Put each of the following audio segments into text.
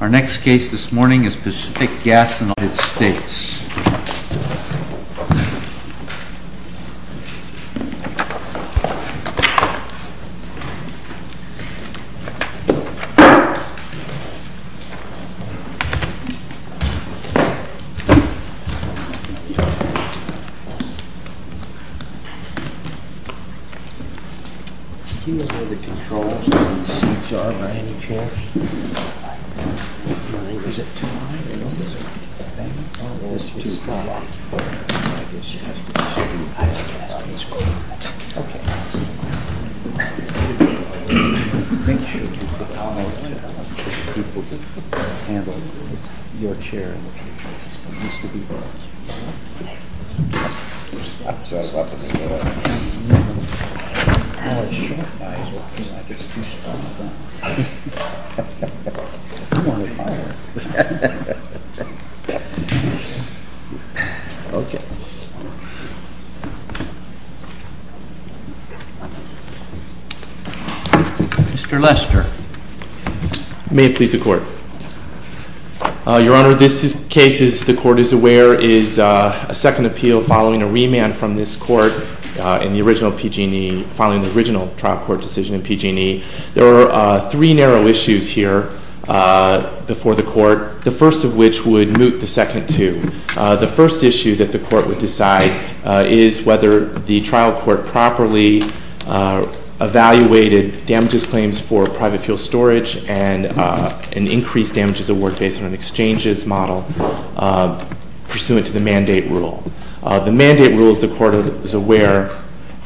Our next case this morning is Pacific Gas & Electric v. United States. Is it time to open the bank or is it too strong? I guess she has to be strong. I think she has to be strong. Okay. Make sure you get the power of the chair. I want the people to handle you. Your chair needs to be brought. Okay. I'm sorry. It's not going to get up. Well, it should. I guess it's too strong. I'm on fire. Okay. Mr. Lester. May it please the Court. Your Honor, this case, as the Court is aware, is a second appeal following a remand from this Court in the original PG&E, following the original trial court decision in PG&E. There are three narrow issues here before the Court, the first of which would moot the second two. The first issue that the Court would decide is whether the trial court properly evaluated damages claims for private fuel storage and an increased damages award based on an exchanges model pursuant to the mandate rule. The mandate rule, as the Court is aware—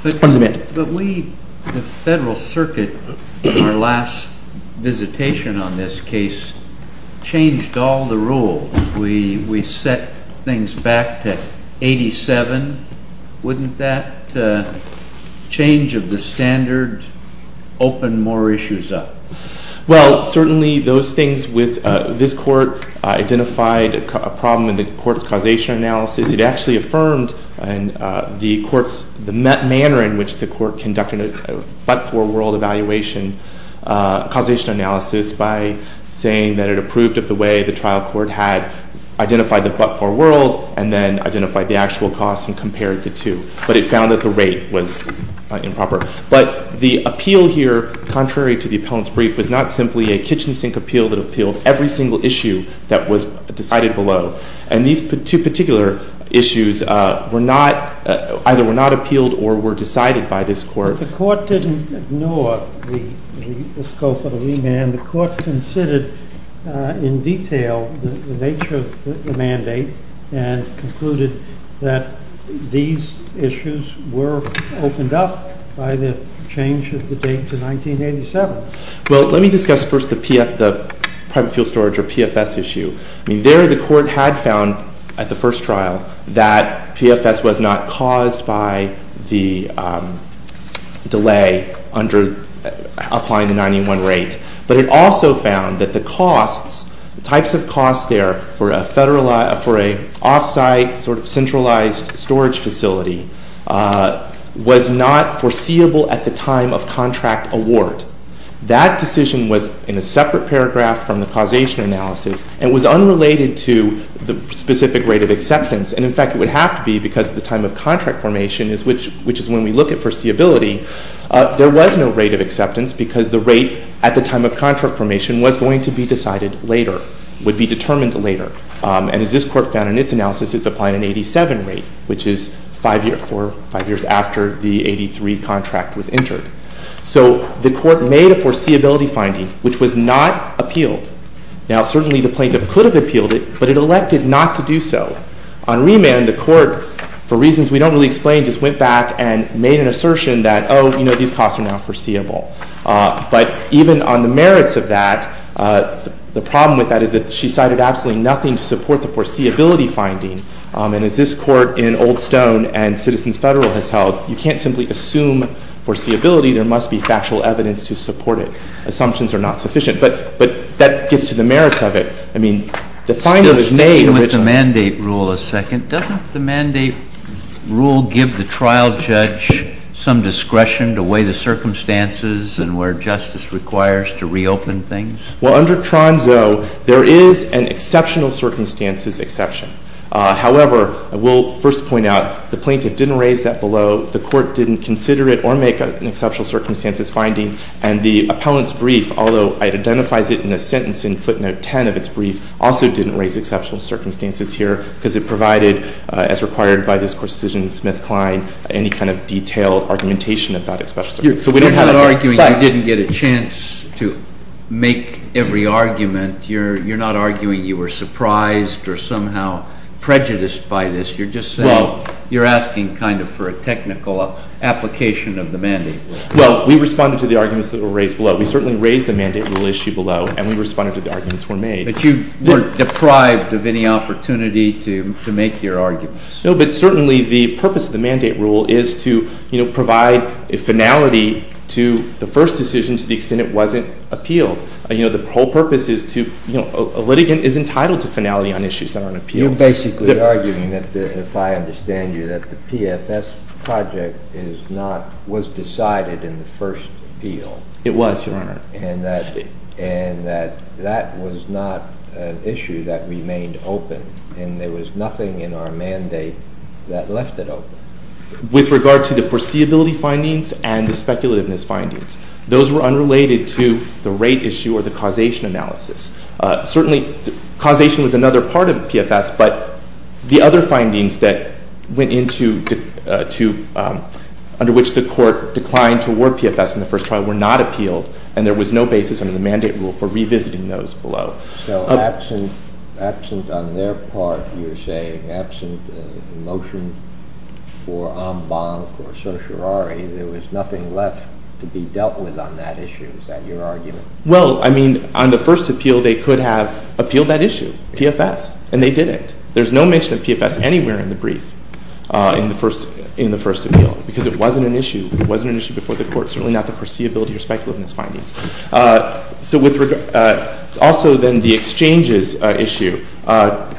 But we, the Federal Circuit, in our last visitation on this case, changed all the rules. We set things back to 87. Wouldn't that change of the standard open more issues up? Well, certainly those things with this Court identified a problem in the Court's causation analysis. It actually affirmed the manner in which the Court conducted a but-for world evaluation causation analysis by saying that it approved of the way the trial court had identified the but-for world and then identified the actual cost and compared the two. But it found that the rate was improper. But the appeal here, contrary to the appellant's brief, was not simply a kitchen sink appeal that appealed every single issue that was decided below. And these two particular issues either were not appealed or were decided by this Court. But the Court didn't ignore the scope of the remand. The Court considered in detail the nature of the mandate and concluded that these issues were opened up by the change of the date to 1987. Well, let me discuss first the private fuel storage, or PFS, issue. I mean, there the Court had found at the first trial that PFS was not caused by the delay applying the 91 rate. But it also found that the costs, the types of costs there for an off-site sort of centralized storage facility was not foreseeable at the time of contract award. That decision was in a separate paragraph from the causation analysis and was unrelated to the specific rate of acceptance. And, in fact, it would have to be because at the time of contract formation, which is when we look at foreseeability, there was no rate of acceptance because the rate at the time of contract formation was going to be decided later, would be determined later. And as this Court found in its analysis, it's applying an 87 rate, which is five years after the 83 contract was entered. So the Court made a foreseeability finding, which was not appealed. Now, certainly the plaintiff could have appealed it, but it elected not to do so. On remand, the Court, for reasons we don't really explain, just went back and made an assertion that, oh, you know, these costs are now foreseeable. But even on the merits of that, the problem with that is that she cited absolutely nothing to support the foreseeability finding. And as this Court in Old Stone and Citizens Federal has held, you can't simply assume foreseeability. There must be factual evidence to support it. Assumptions are not sufficient. But that gets to the merits of it. I mean, the finding was made originally. JUSTICE SCALIA. Staying with the mandate rule a second, doesn't the mandate rule give the trial judge some discretion to weigh the circumstances and where justice requires to reopen things? MR. LIEBERMAN. Well, under Tronzo, there is an exceptional circumstances exception. However, I will first point out the plaintiff didn't raise that below. The Court didn't consider it or make an exceptional circumstances finding. And the appellant's brief, although it identifies it in a sentence in footnote 10 of its brief, also didn't raise exceptional circumstances here because it provided, as required by this Court's decision in Smith-Kline, any kind of detailed argumentation about exceptional circumstances. JUSTICE SCALIA. You're not arguing you didn't get a chance to make every argument. You're not arguing you were surprised or somehow prejudiced by this. You're just saying you're asking kind of for a technical application of the mandate rule. MR. LIEBERMAN. Well, we responded to the arguments that were raised below. We certainly raised the mandate rule issue below, and we responded to the arguments that were made. JUSTICE SCALIA. But you were deprived of any opportunity to make your arguments. MR. LIEBERMAN. No, but certainly the purpose of the mandate rule is to, you know, provide a finality to the first decision to the extent it wasn't appealed. You know, the whole purpose is to, you know, a litigant is entitled to finality on issues that aren't appealed. JUSTICE SCALIA. You're basically arguing that, if I understand you, that the PFS project is not, was decided in the first appeal. MR. LIEBERMAN. It was, Your Honor. And that that was not an issue that remained open, and there was nothing in our mandate that left it open. With regard to the foreseeability findings and the speculativeness findings, those were unrelated to the rate issue or the causation analysis. Certainly, causation was another part of PFS, but the other findings that went into, under which the Court declined to award PFS in the first trial were not appealed, and there was no basis under the mandate rule for revisiting those below. JUSTICE SCALIA. So, absent on their part, you're saying, absent a motion for en banc or certiorari, there was nothing left to be dealt with on that issue. Is that your argument? MR. LIEBERMAN. Well, I mean, on the first appeal, they could have appealed that issue, PFS, and they didn't. There's no mention of PFS anywhere in the brief in the first appeal because it wasn't an issue. It wasn't an issue before the Court, certainly not the foreseeability or speculativeness findings. So with regard, also then the exchanges issue,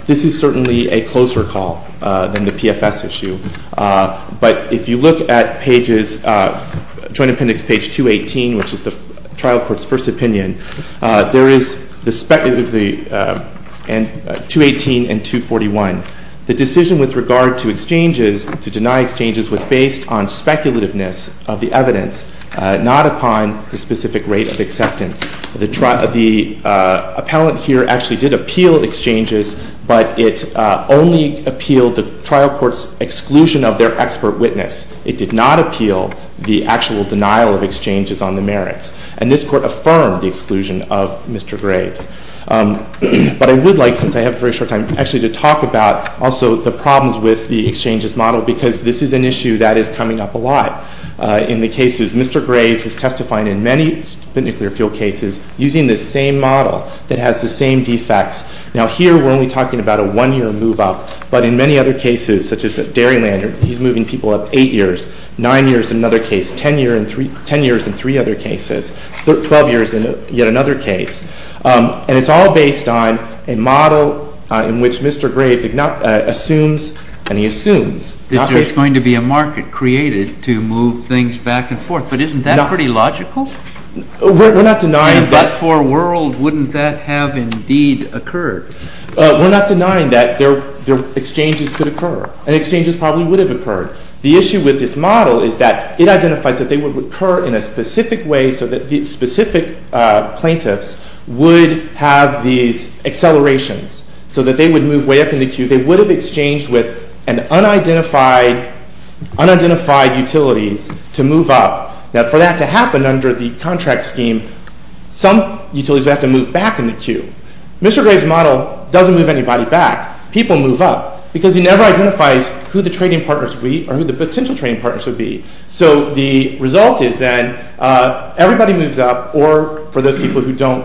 this is certainly a closer call than the PFS issue. But if you look at pages, Joint Appendix page 218, which is the trial court's first opinion, there is 218 and 241. The decision with regard to exchanges, to deny exchanges, was based on speculativeness of the evidence, not upon the specific rate of acceptance. The appellant here actually did appeal exchanges, but it only appealed the trial court's exclusion of their expert witness. It did not appeal the actual denial of exchanges on the merits. And this Court affirmed the exclusion of Mr. Graves. But I would like, since I have very short time, actually to talk about also the problems with the exchanges model because this is an issue that is coming up a lot in the cases. Mr. Graves is testifying in many nuclear fuel cases using the same model that has the same defects. Now, here we're only talking about a one-year move-up, but in many other cases, such as at Dairyland, he's moving people up 8 years, 9 years in another case, 10 years in 3 other cases, 12 years in yet another case. And it's all based on a model in which Mr. Graves assumes, and he assumes, not based on— It's going to be a market created to move things back and forth, but isn't that pretty logical? We're not denying that— In a Black 4 world, wouldn't that have indeed occurred? We're not denying that exchanges could occur, and exchanges probably would have occurred. The issue with this model is that it identifies that they would occur in a specific way so that the specific plaintiffs would have these accelerations so that they would move way up in the queue. They would have exchanged with unidentified utilities to move up. Now, for that to happen under the contract scheme, some utilities would have to move back in the queue. Mr. Graves' model doesn't move anybody back. People move up because he never identifies who the trading partners would be or who the potential trading partners would be. So the result is then everybody moves up, or for those people who don't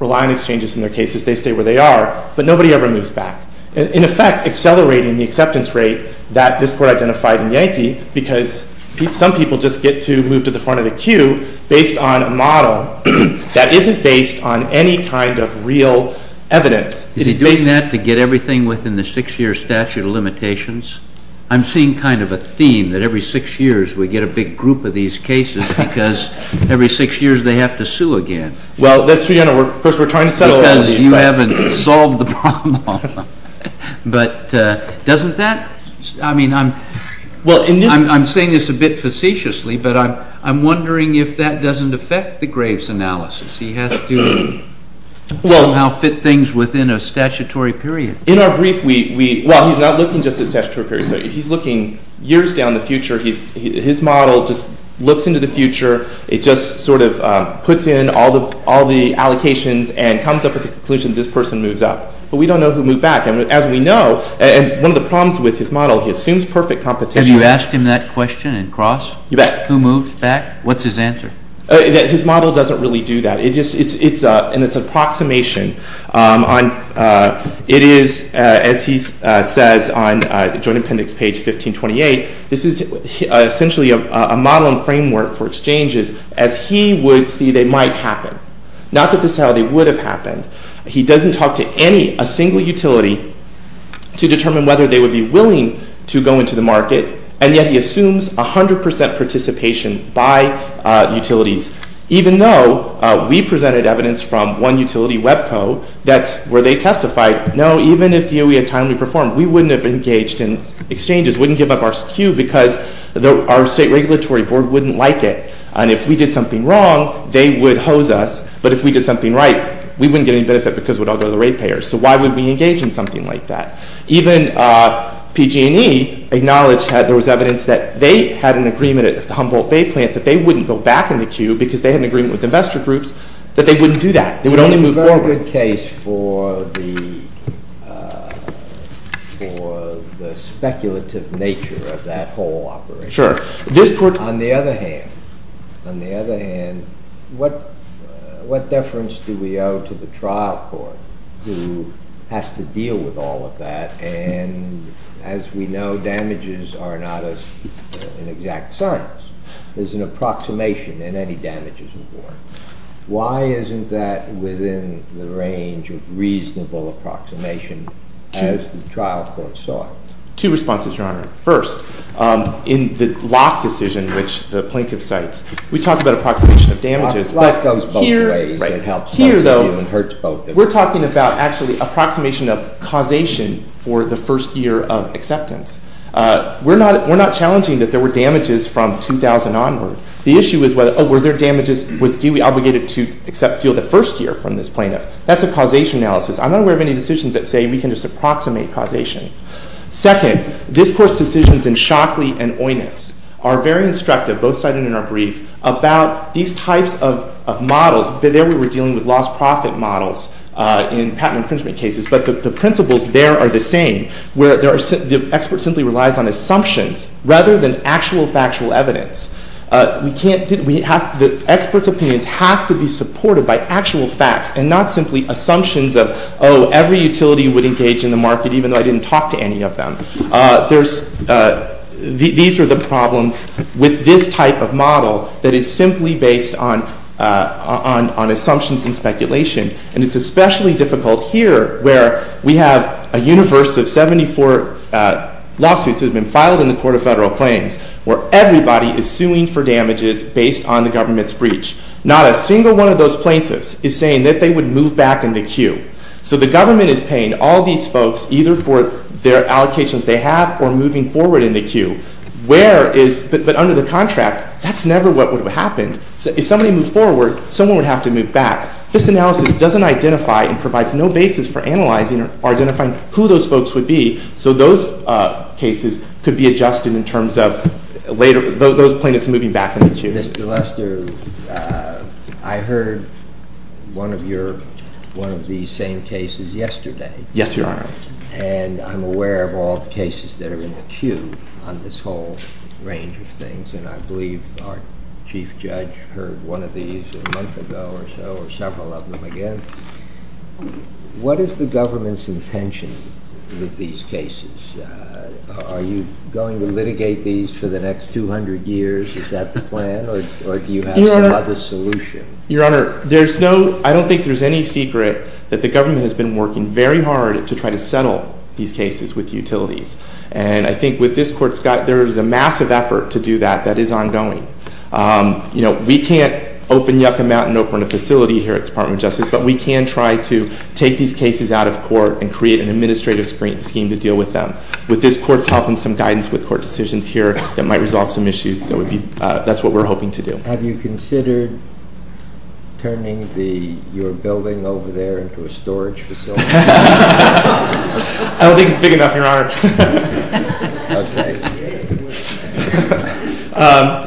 rely on exchanges in their cases, they stay where they are, but nobody ever moves back, in effect accelerating the acceptance rate that this court identified in Yankee because some people just get to move to the front of the queue based on a model that isn't based on any kind of real evidence. Is he doing that to get everything within the 6-year statute of limitations? I'm seeing kind of a theme that every 6 years we get a big group of these cases because every 6 years they have to sue again. Well, that's true. Of course, we're trying to settle all these. Because you haven't solved the problem. But doesn't that, I mean, I'm saying this a bit facetiously, but I'm wondering if that doesn't affect the Graves' analysis. He has to somehow fit things within a statutory period. In our brief, well, he's not looking just at statutory periods. He's looking years down the future. His model just looks into the future. It just sort of puts in all the allocations and comes up with the conclusion this person moves up. But we don't know who moved back. And as we know, one of the problems with his model, he assumes perfect competition. Have you asked him that question in Cross? You bet. Who moved back? What's his answer? His model doesn't really do that. In its approximation, it is, as he says on Joint Appendix page 1528, this is essentially a model and framework for exchanges as he would see they might happen. Not that this is how they would have happened. He doesn't talk to any, a single utility to determine whether they would be willing to go into the market. And yet he assumes 100 percent participation by utilities, even though we presented evidence from one utility, WebCo, that's where they testified, no, even if DOE had timely performed, we wouldn't have engaged in exchanges, wouldn't give up our SKU because our state regulatory board wouldn't like it. And if we did something wrong, they would hose us. But if we did something right, we wouldn't get any benefit because we'd all go to the rate payers. So why would we engage in something like that? Even PG&E acknowledged there was evidence that they had an agreement at the Humboldt Bay plant that they wouldn't go back in the SKU because they had an agreement with investor groups that they wouldn't do that. They would only move forward. It's a very good case for the speculative nature of that whole operation. Sure. On the other hand, on the other hand, what deference do we owe to the trial court who has to deal with all of that? And as we know, damages are not an exact science. There's an approximation in any damages report. Why isn't that within the range of reasonable approximation as the trial court saw it? Two responses, Your Honor. First, in the Locke decision, which the plaintiff cites, we talked about approximation of damages. Locke goes both ways. Right. Here, though, we're talking about actually approximation of causation for the first year of acceptance. We're not challenging that there were damages from 2000 onward. The issue is whether, oh, were there damages, was Dewey obligated to accept fuel the first year from this plaintiff? That's a causation analysis. I'm not aware of any decisions that say we can just approximate causation. Second, this Court's decisions in Shockley and Oinous are very instructive, both cited in our brief, about these types of models. There we were dealing with lost profit models in patent infringement cases, but the principles there are the same. The expert simply relies on assumptions rather than actual factual evidence. The expert's opinions have to be supported by actual facts and not simply assumptions of, oh, every utility would engage in the market even though I didn't talk to any of them. These are the problems with this type of model that is simply based on assumptions and speculation. And it's especially difficult here where we have a universe of 74 lawsuits that have been filed in the Court of Federal Claims where everybody is suing for damages based on the government's breach. Not a single one of those plaintiffs is saying that they would move back in the queue. So the government is paying all these folks either for their allocations they have or moving forward in the queue. But under the contract, that's never what would have happened. If somebody moved forward, someone would have to move back. This analysis doesn't identify and provides no basis for analyzing or identifying who those folks would be, so those cases could be adjusted in terms of those plaintiffs moving back in the queue. Mr. Lester, I heard one of these same cases yesterday. Yes, Your Honor. And I'm aware of all the cases that are in the queue on this whole range of things, and I believe our chief judge heard one of these a month ago or so or several of them again. What is the government's intention with these cases? Are you going to litigate these for the next 200 years? Is that the plan, or do you have some other solution? Your Honor, there's no—I don't think there's any secret that the government has been working very hard to try to settle these cases with utilities. And I think with this court, Scott, there is a massive effort to do that that is ongoing. You know, we can't open Yucca Mountain up in a facility here at the Department of Justice, but we can try to take these cases out of court and create an administrative scheme to deal with them. With this court's help and some guidance with court decisions here, that might resolve some issues. That's what we're hoping to do. Have you considered turning your building over there into a storage facility? I don't think it's big enough, Your Honor.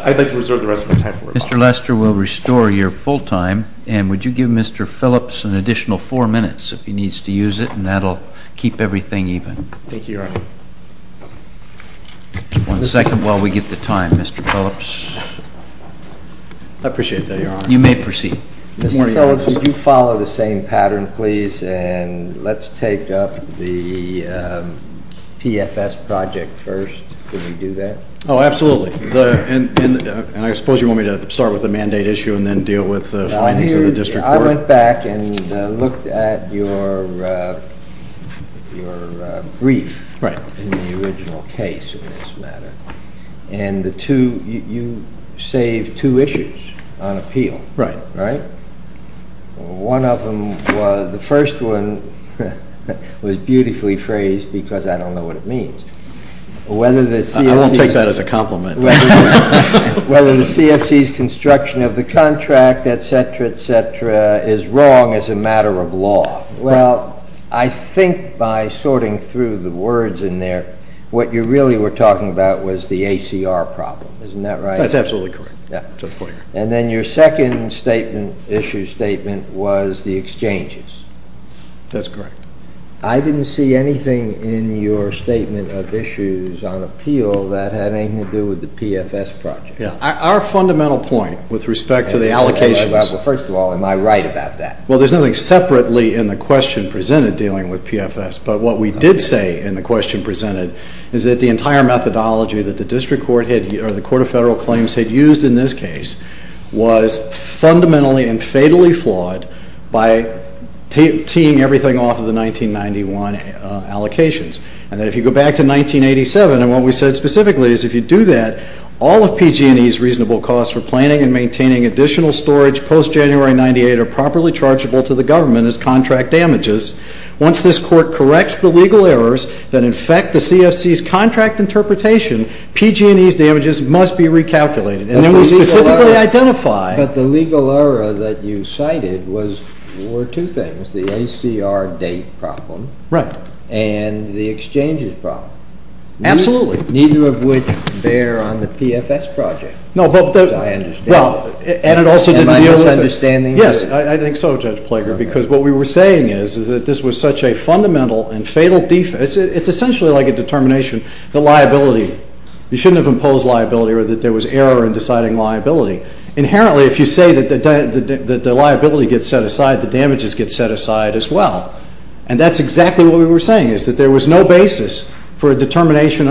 I'd like to reserve the rest of my time for it. Mr. Lester will restore your full time, and would you give Mr. Phillips an additional four minutes if he needs to use it, and that will keep everything even. Thank you, Your Honor. One second while we get the time, Mr. Phillips. I appreciate that, Your Honor. You may proceed. Mr. Phillips, would you follow the same pattern, please? And let's take up the PFS project first. Could we do that? Oh, absolutely. And I suppose you want me to start with the mandate issue and then deal with the findings of the district court? I went back and looked at your brief in the original case in this matter, and you saved two issues on appeal, right? Right. The first one was beautifully phrased because I don't know what it means. I won't take that as a compliment. Whether the CFC's construction of the contract, et cetera, et cetera, is wrong as a matter of law. Well, I think by sorting through the words in there, what you really were talking about was the ACR problem. Isn't that right? That's absolutely correct. And then your second statement, issue statement, was the exchanges. That's correct. I didn't see anything in your statement of issues on appeal that had anything to do with the PFS project. Our fundamental point with respect to the allocations. First of all, am I right about that? Well, there's nothing separately in the question presented dealing with PFS, but what we did say in the question presented is that the entire methodology that the district court or the court of federal claims had used in this case was fundamentally and fatally flawed by teeing everything off of the 1991 allocations. And then if you go back to 1987, and what we said specifically is if you do that, all of PG&E's reasonable costs for planning and maintaining additional storage post-January 98 are properly chargeable to the government as contract damages. Once this court corrects the legal errors that infect the CFC's contract interpretation, PG&E's damages must be recalculated. And then we specifically identify. But the legal error that you cited were two things. The ACR date problem. Right. And the exchanges problem. Absolutely. Neither of which bear on the PFS project. No, but the... As I understand it... And it also didn't deal with... Am I misunderstanding you? Yes, I think so, Judge Plager, because what we were saying is that this was such a fundamental and fatal defense. It's essentially like a determination that liability. You shouldn't have imposed liability or that there was error in deciding liability. Inherently, if you say that the liability gets set aside, the damages get set aside as well. And that's exactly what we were saying, is that there was no basis for a determination...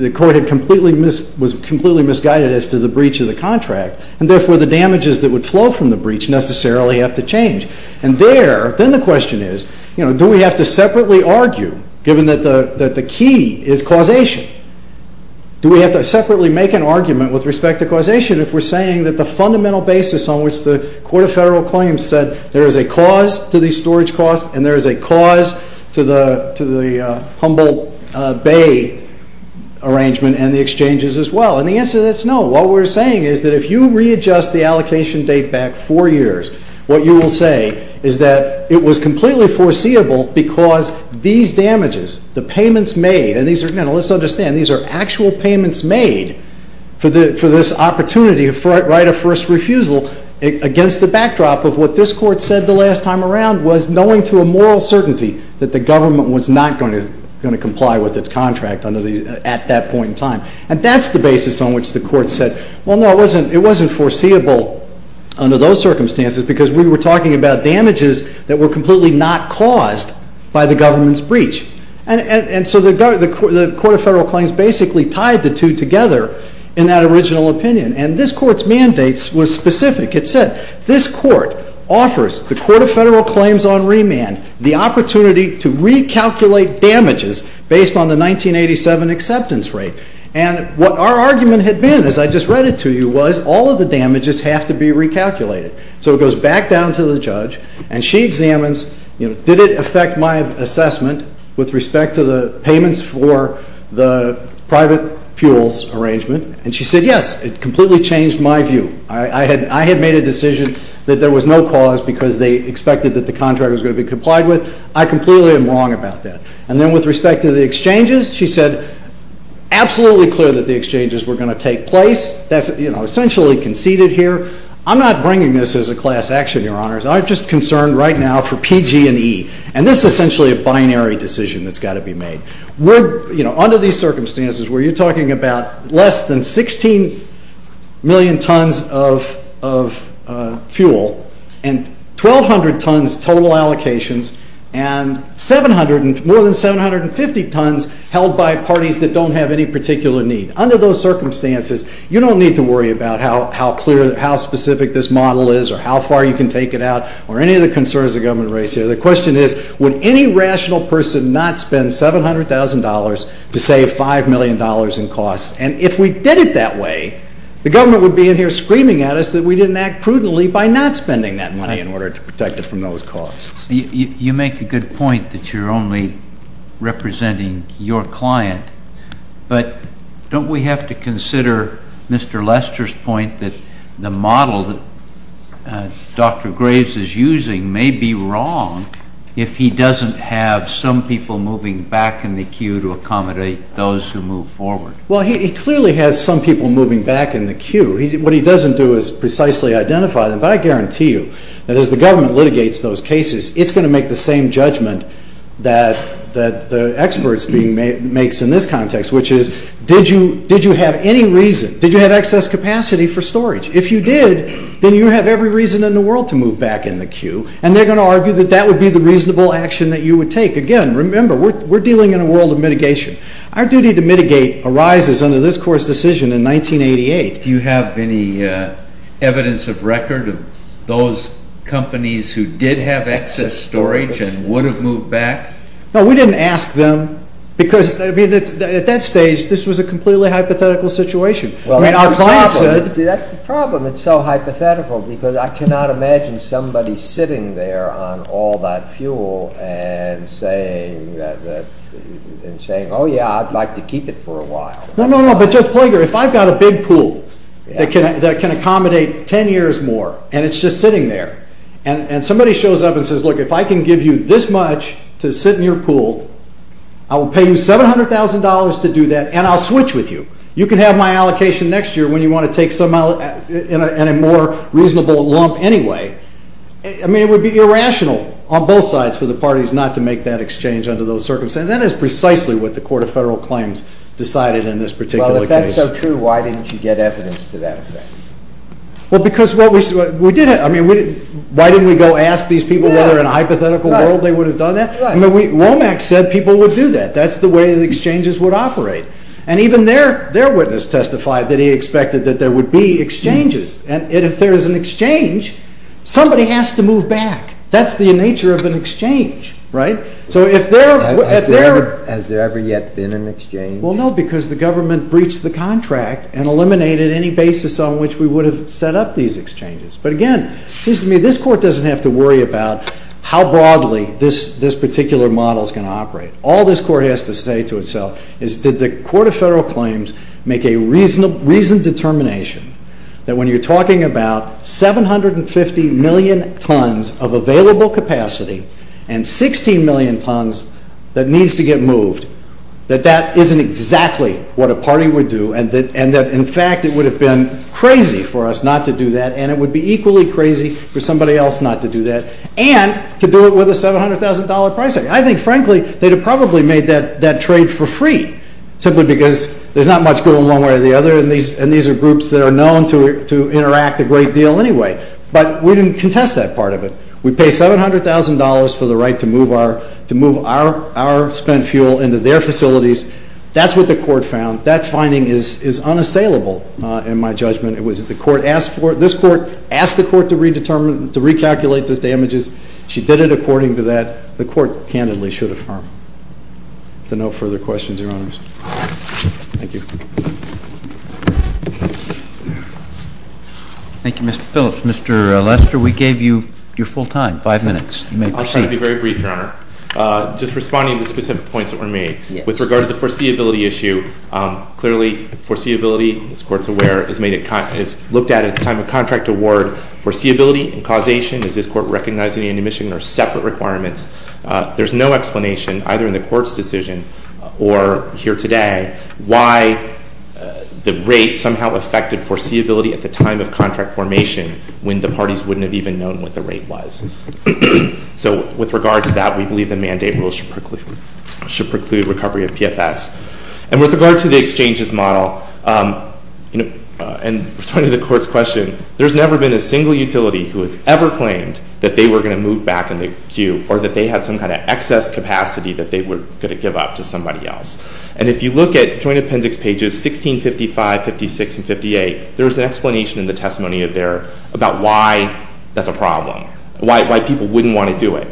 The court was completely misguided as to the breach of the contract. And therefore, the damages that would flow from the breach necessarily have to change. And there, then the question is, do we have to separately argue, given that the key is causation? Do we have to separately make an argument with respect to causation? If we're saying that the fundamental basis on which the Court of Federal Claims said there is a cause to these storage costs... And there is a cause to the Humboldt Bay arrangement and the exchanges as well. And the answer to that is no. What we're saying is that if you readjust the allocation date back four years... What you will say is that it was completely foreseeable because these damages, the payments made... And let's understand, these are actual payments made for this opportunity to write a first refusal... Against the backdrop of what this Court said the last time around was knowing to a moral certainty... That the government was not going to comply with its contract at that point in time. And that's the basis on which the Court said, well, no, it wasn't foreseeable under those circumstances... Because we were talking about damages that were completely not caused by the government's breach. And so the Court of Federal Claims basically tied the two together in that original opinion. And this Court's mandate was specific. It said, this Court offers the Court of Federal Claims on remand the opportunity to recalculate damages... Based on the 1987 acceptance rate. And what our argument had been, as I just read it to you, was all of the damages have to be recalculated. So it goes back down to the judge and she examines, you know, did it affect my assessment... With respect to the payments for the private fuels arrangement. And she said, yes, it completely changed my view. I had made a decision that there was no cause because they expected that the contract was going to be complied with. I completely am wrong about that. And then with respect to the exchanges, she said, absolutely clear that the exchanges were going to take place. That's, you know, essentially conceded here. I'm not bringing this as a class action, Your Honors. I'm just concerned right now for P, G, and E. And this is essentially a binary decision that's got to be made. We're, you know, under these circumstances where you're talking about less than 16 million tons of fuel. And 1,200 tons total allocations. And 700, more than 750 tons held by parties that don't have any particular need. Under those circumstances, you don't need to worry about how specific this model is or how far you can take it out or any of the concerns the government raised here. The question is, would any rational person not spend $700,000 to save $5 million in costs? And if we did it that way, the government would be in here screaming at us that we didn't act prudently by not spending that money in order to protect it from those costs. You make a good point that you're only representing your client. But don't we have to consider Mr. Lester's point that the model that Dr. Graves is using may be wrong if he doesn't have some people moving back in the queue to accommodate those who move forward? Well, he clearly has some people moving back in the queue. What he doesn't do is precisely identify them. But I guarantee you that as the government litigates those cases, it's going to make the same judgment that the experts makes in this context, which is, did you have any reason? Did you have excess capacity for storage? If you did, then you have every reason in the world to move back in the queue. And they're going to argue that that would be the reasonable action that you would take. Again, remember, we're dealing in a world of mitigation. Our duty to mitigate arises under this Court's decision in 1988. Do you have any evidence of record of those companies who did have excess storage and would have moved back? No, we didn't ask them. Because at that stage, this was a completely hypothetical situation. That's the problem. It's so hypothetical because I cannot imagine somebody sitting there on all that fuel and saying, oh, yeah, I'd like to keep it for a while. No, no, no, but Judge Plager, if I've got a big pool that can accommodate 10 years more and it's just sitting there, and somebody shows up and says, look, if I can give you this much to sit in your pool, I will pay you $700,000 to do that, and I'll switch with you. You can have my allocation next year when you want to take some in a more reasonable lump anyway. I mean, it would be irrational on both sides for the parties not to make that exchange under those circumstances. That is precisely what the Court of Federal Claims decided in this particular case. Well, if that's so true, why didn't you get evidence to that effect? Well, because what we did, I mean, why didn't we go ask these people whether in a hypothetical world they would have done that? Womack said people would do that. That's the way that exchanges would operate. And even their witness testified that he expected that there would be exchanges. And if there is an exchange, somebody has to move back. That's the nature of an exchange, right? Has there ever yet been an exchange? Well, no, because the government breached the contract and eliminated any basis on which we would have set up these exchanges. But again, it seems to me this Court doesn't have to worry about how broadly this particular model is going to operate. All this Court has to say to itself is did the Court of Federal Claims make a reasoned determination that when you're talking about 750 million tons of available capacity and 16 million tons that needs to get moved that that isn't exactly what a party would do and that in fact it would have been crazy for us not to do that and it would be equally crazy for somebody else not to do that and to do it with a $700,000 price tag. I think frankly they'd have probably made that trade for free simply because there's not much going one way or the other and these are groups that are known to interact a great deal anyway. But we didn't contest that part of it. We pay $700,000 for the right to move our spent fuel into their facilities. That's what the Court found. That finding is unassailable in my judgment. It was the Court asked for it. This Court asked the Court to recalculate those damages. She did it according to that. The Court candidly should affirm. So no further questions, Your Honors. Thank you. Thank you, Mr. Phillips. Mr. Lester, we gave you your full time, five minutes. You may proceed. I'll try to be very brief, Your Honor. Just responding to the specific points that were made. With regard to the foreseeability issue, clearly foreseeability, this Court's aware, is looked at at the time of contract award. For foreseeability and causation, does this Court recognize any admission or separate requirements? There's no explanation, either in the Court's decision or here today, why the rate somehow affected foreseeability at the time of contract formation when the parties wouldn't have even known what the rate was. So with regard to that, we believe the mandate rule should preclude recovery of PFS. And with regard to the exchanges model, and responding to the Court's question, there's never been a single utility who has ever claimed that they were going to move back in the queue or that they had some kind of excess capacity that they were going to give up to somebody else. And if you look at Joint Appendix pages 1655, 1656, and 1658, there's an explanation in the testimony there about why that's a problem, why people wouldn't want to do it.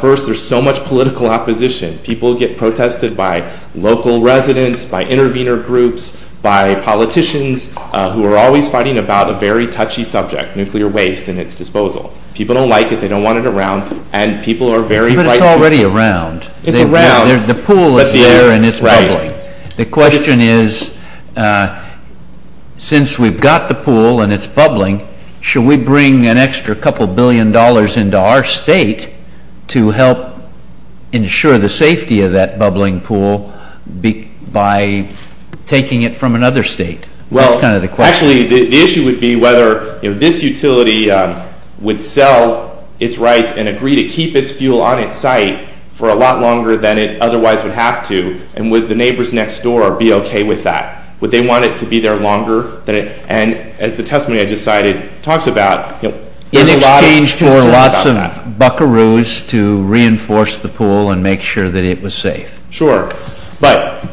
First, there's so much political opposition. People get protested by local residents, by intervener groups, by politicians who are always fighting about a very touchy subject, nuclear waste and its disposal. People don't like it, they don't want it around, and people are very frightened. But it's already around. It's around. The pool is there and it's bubbling. The question is, since we've got the pool and it's bubbling, should we bring an extra couple billion dollars into our state to help ensure the safety of that bubbling pool by taking it from another state? That's kind of the question. Actually, the issue would be whether this utility would sell its rights and agree to keep its fuel on its site for a lot longer than it otherwise would have to, and would the neighbors next door be okay with that? Would they want it to be there longer? And as the testimony I just cited talks about, there's a lot of... There were lots of buckaroos to reinforce the pool and make sure that it was safe. Sure. But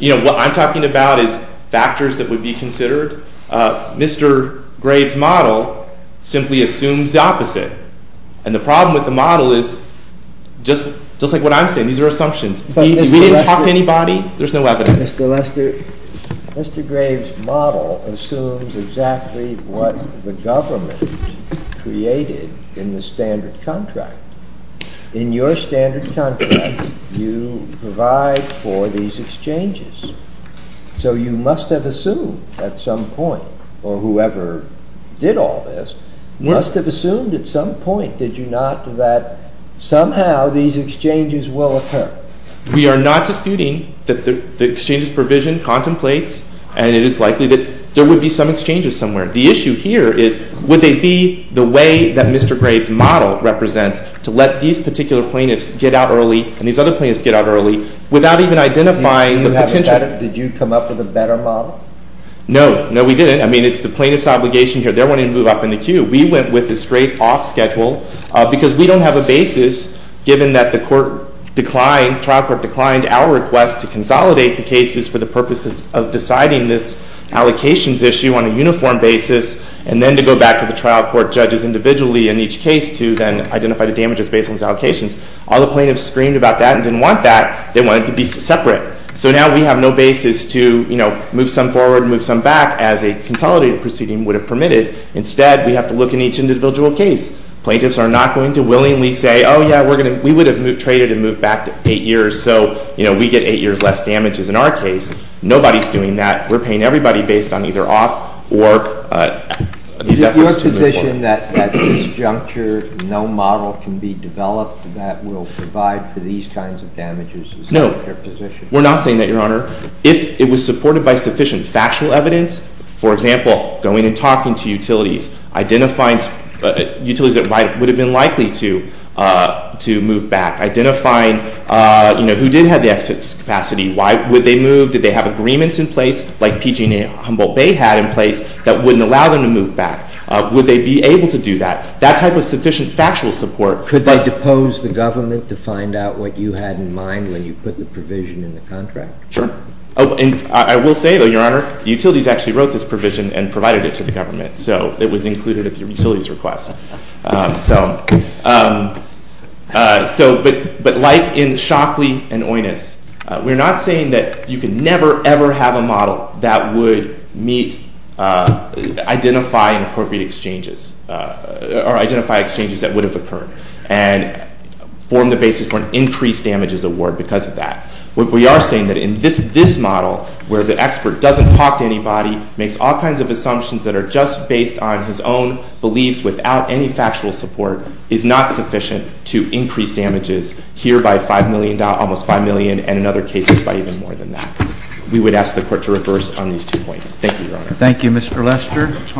what I'm talking about is factors that would be considered. Mr. Graves' model simply assumes the opposite. And the problem with the model is, just like what I'm saying, these are assumptions. If we didn't talk to anybody, there's no evidence. Mr. Graves' model assumes exactly what the government created in the standard contract. In your standard contract, you provide for these exchanges. So you must have assumed at some point, or whoever did all this, must have assumed at some point, did you not, that somehow these exchanges will occur? We are not disputing that the exchanges provision contemplates, and it is likely that there would be some exchanges somewhere. The issue here is, would they be the way that Mr. Graves' model represents to let these particular plaintiffs get out early and these other plaintiffs get out early without even identifying the potential? Did you come up with a better model? No. No, we didn't. I mean, it's the plaintiff's obligation here. They're wanting to move up in the queue. We went with a straight-off schedule because we don't have a basis, given that the trial court declined our request to consolidate the cases for the purposes of deciding this allocations issue on a uniform basis, and then to go back to the trial court judges individually in each case to then identify the damages based on these allocations. All the plaintiffs screamed about that and didn't want that. They wanted to be separate. So now we have no basis to move some forward and move some back as a consolidated proceeding would have permitted. Instead, we have to look in each individual case. Plaintiffs are not going to willingly say, oh, yeah, we would have traded and moved back eight years so we get eight years less damages. In our case, nobody is doing that. We're paying everybody based on either off or these efforts to move forward. Is it your position that at this juncture no model can be developed that will provide for these kinds of damages? No, we're not saying that, Your Honor. for example, going and talking to utilities, identifying utilities that would have been likely to move back, identifying who did have the excess capacity. Why would they move? Did they have agreements in place like PG&E and Humboldt Bay had in place that wouldn't allow them to move back? Would they be able to do that? That type of sufficient factual support. Could they depose the government to find out what you had in mind when you put the provision in the contract? Sure. the utilities actually wrote this provision and provided it to the government. So it was included in the utilities request. But like in Shockley and Oinous, we're not saying that you can never, ever have a model that would meet identifying appropriate exchanges or identify exchanges that would have occurred and form the basis for an increased damages award because of that. We are saying that in this model where the expert doesn't talk to anybody, makes all kinds of assumptions that are just based on his own beliefs without any factual support, is not sufficient to increase damages here by almost $5 million and in other cases by even more than that. We would ask the court to reverse on these two points. Thank you, Your Honor. Thank you, Mr. Lester.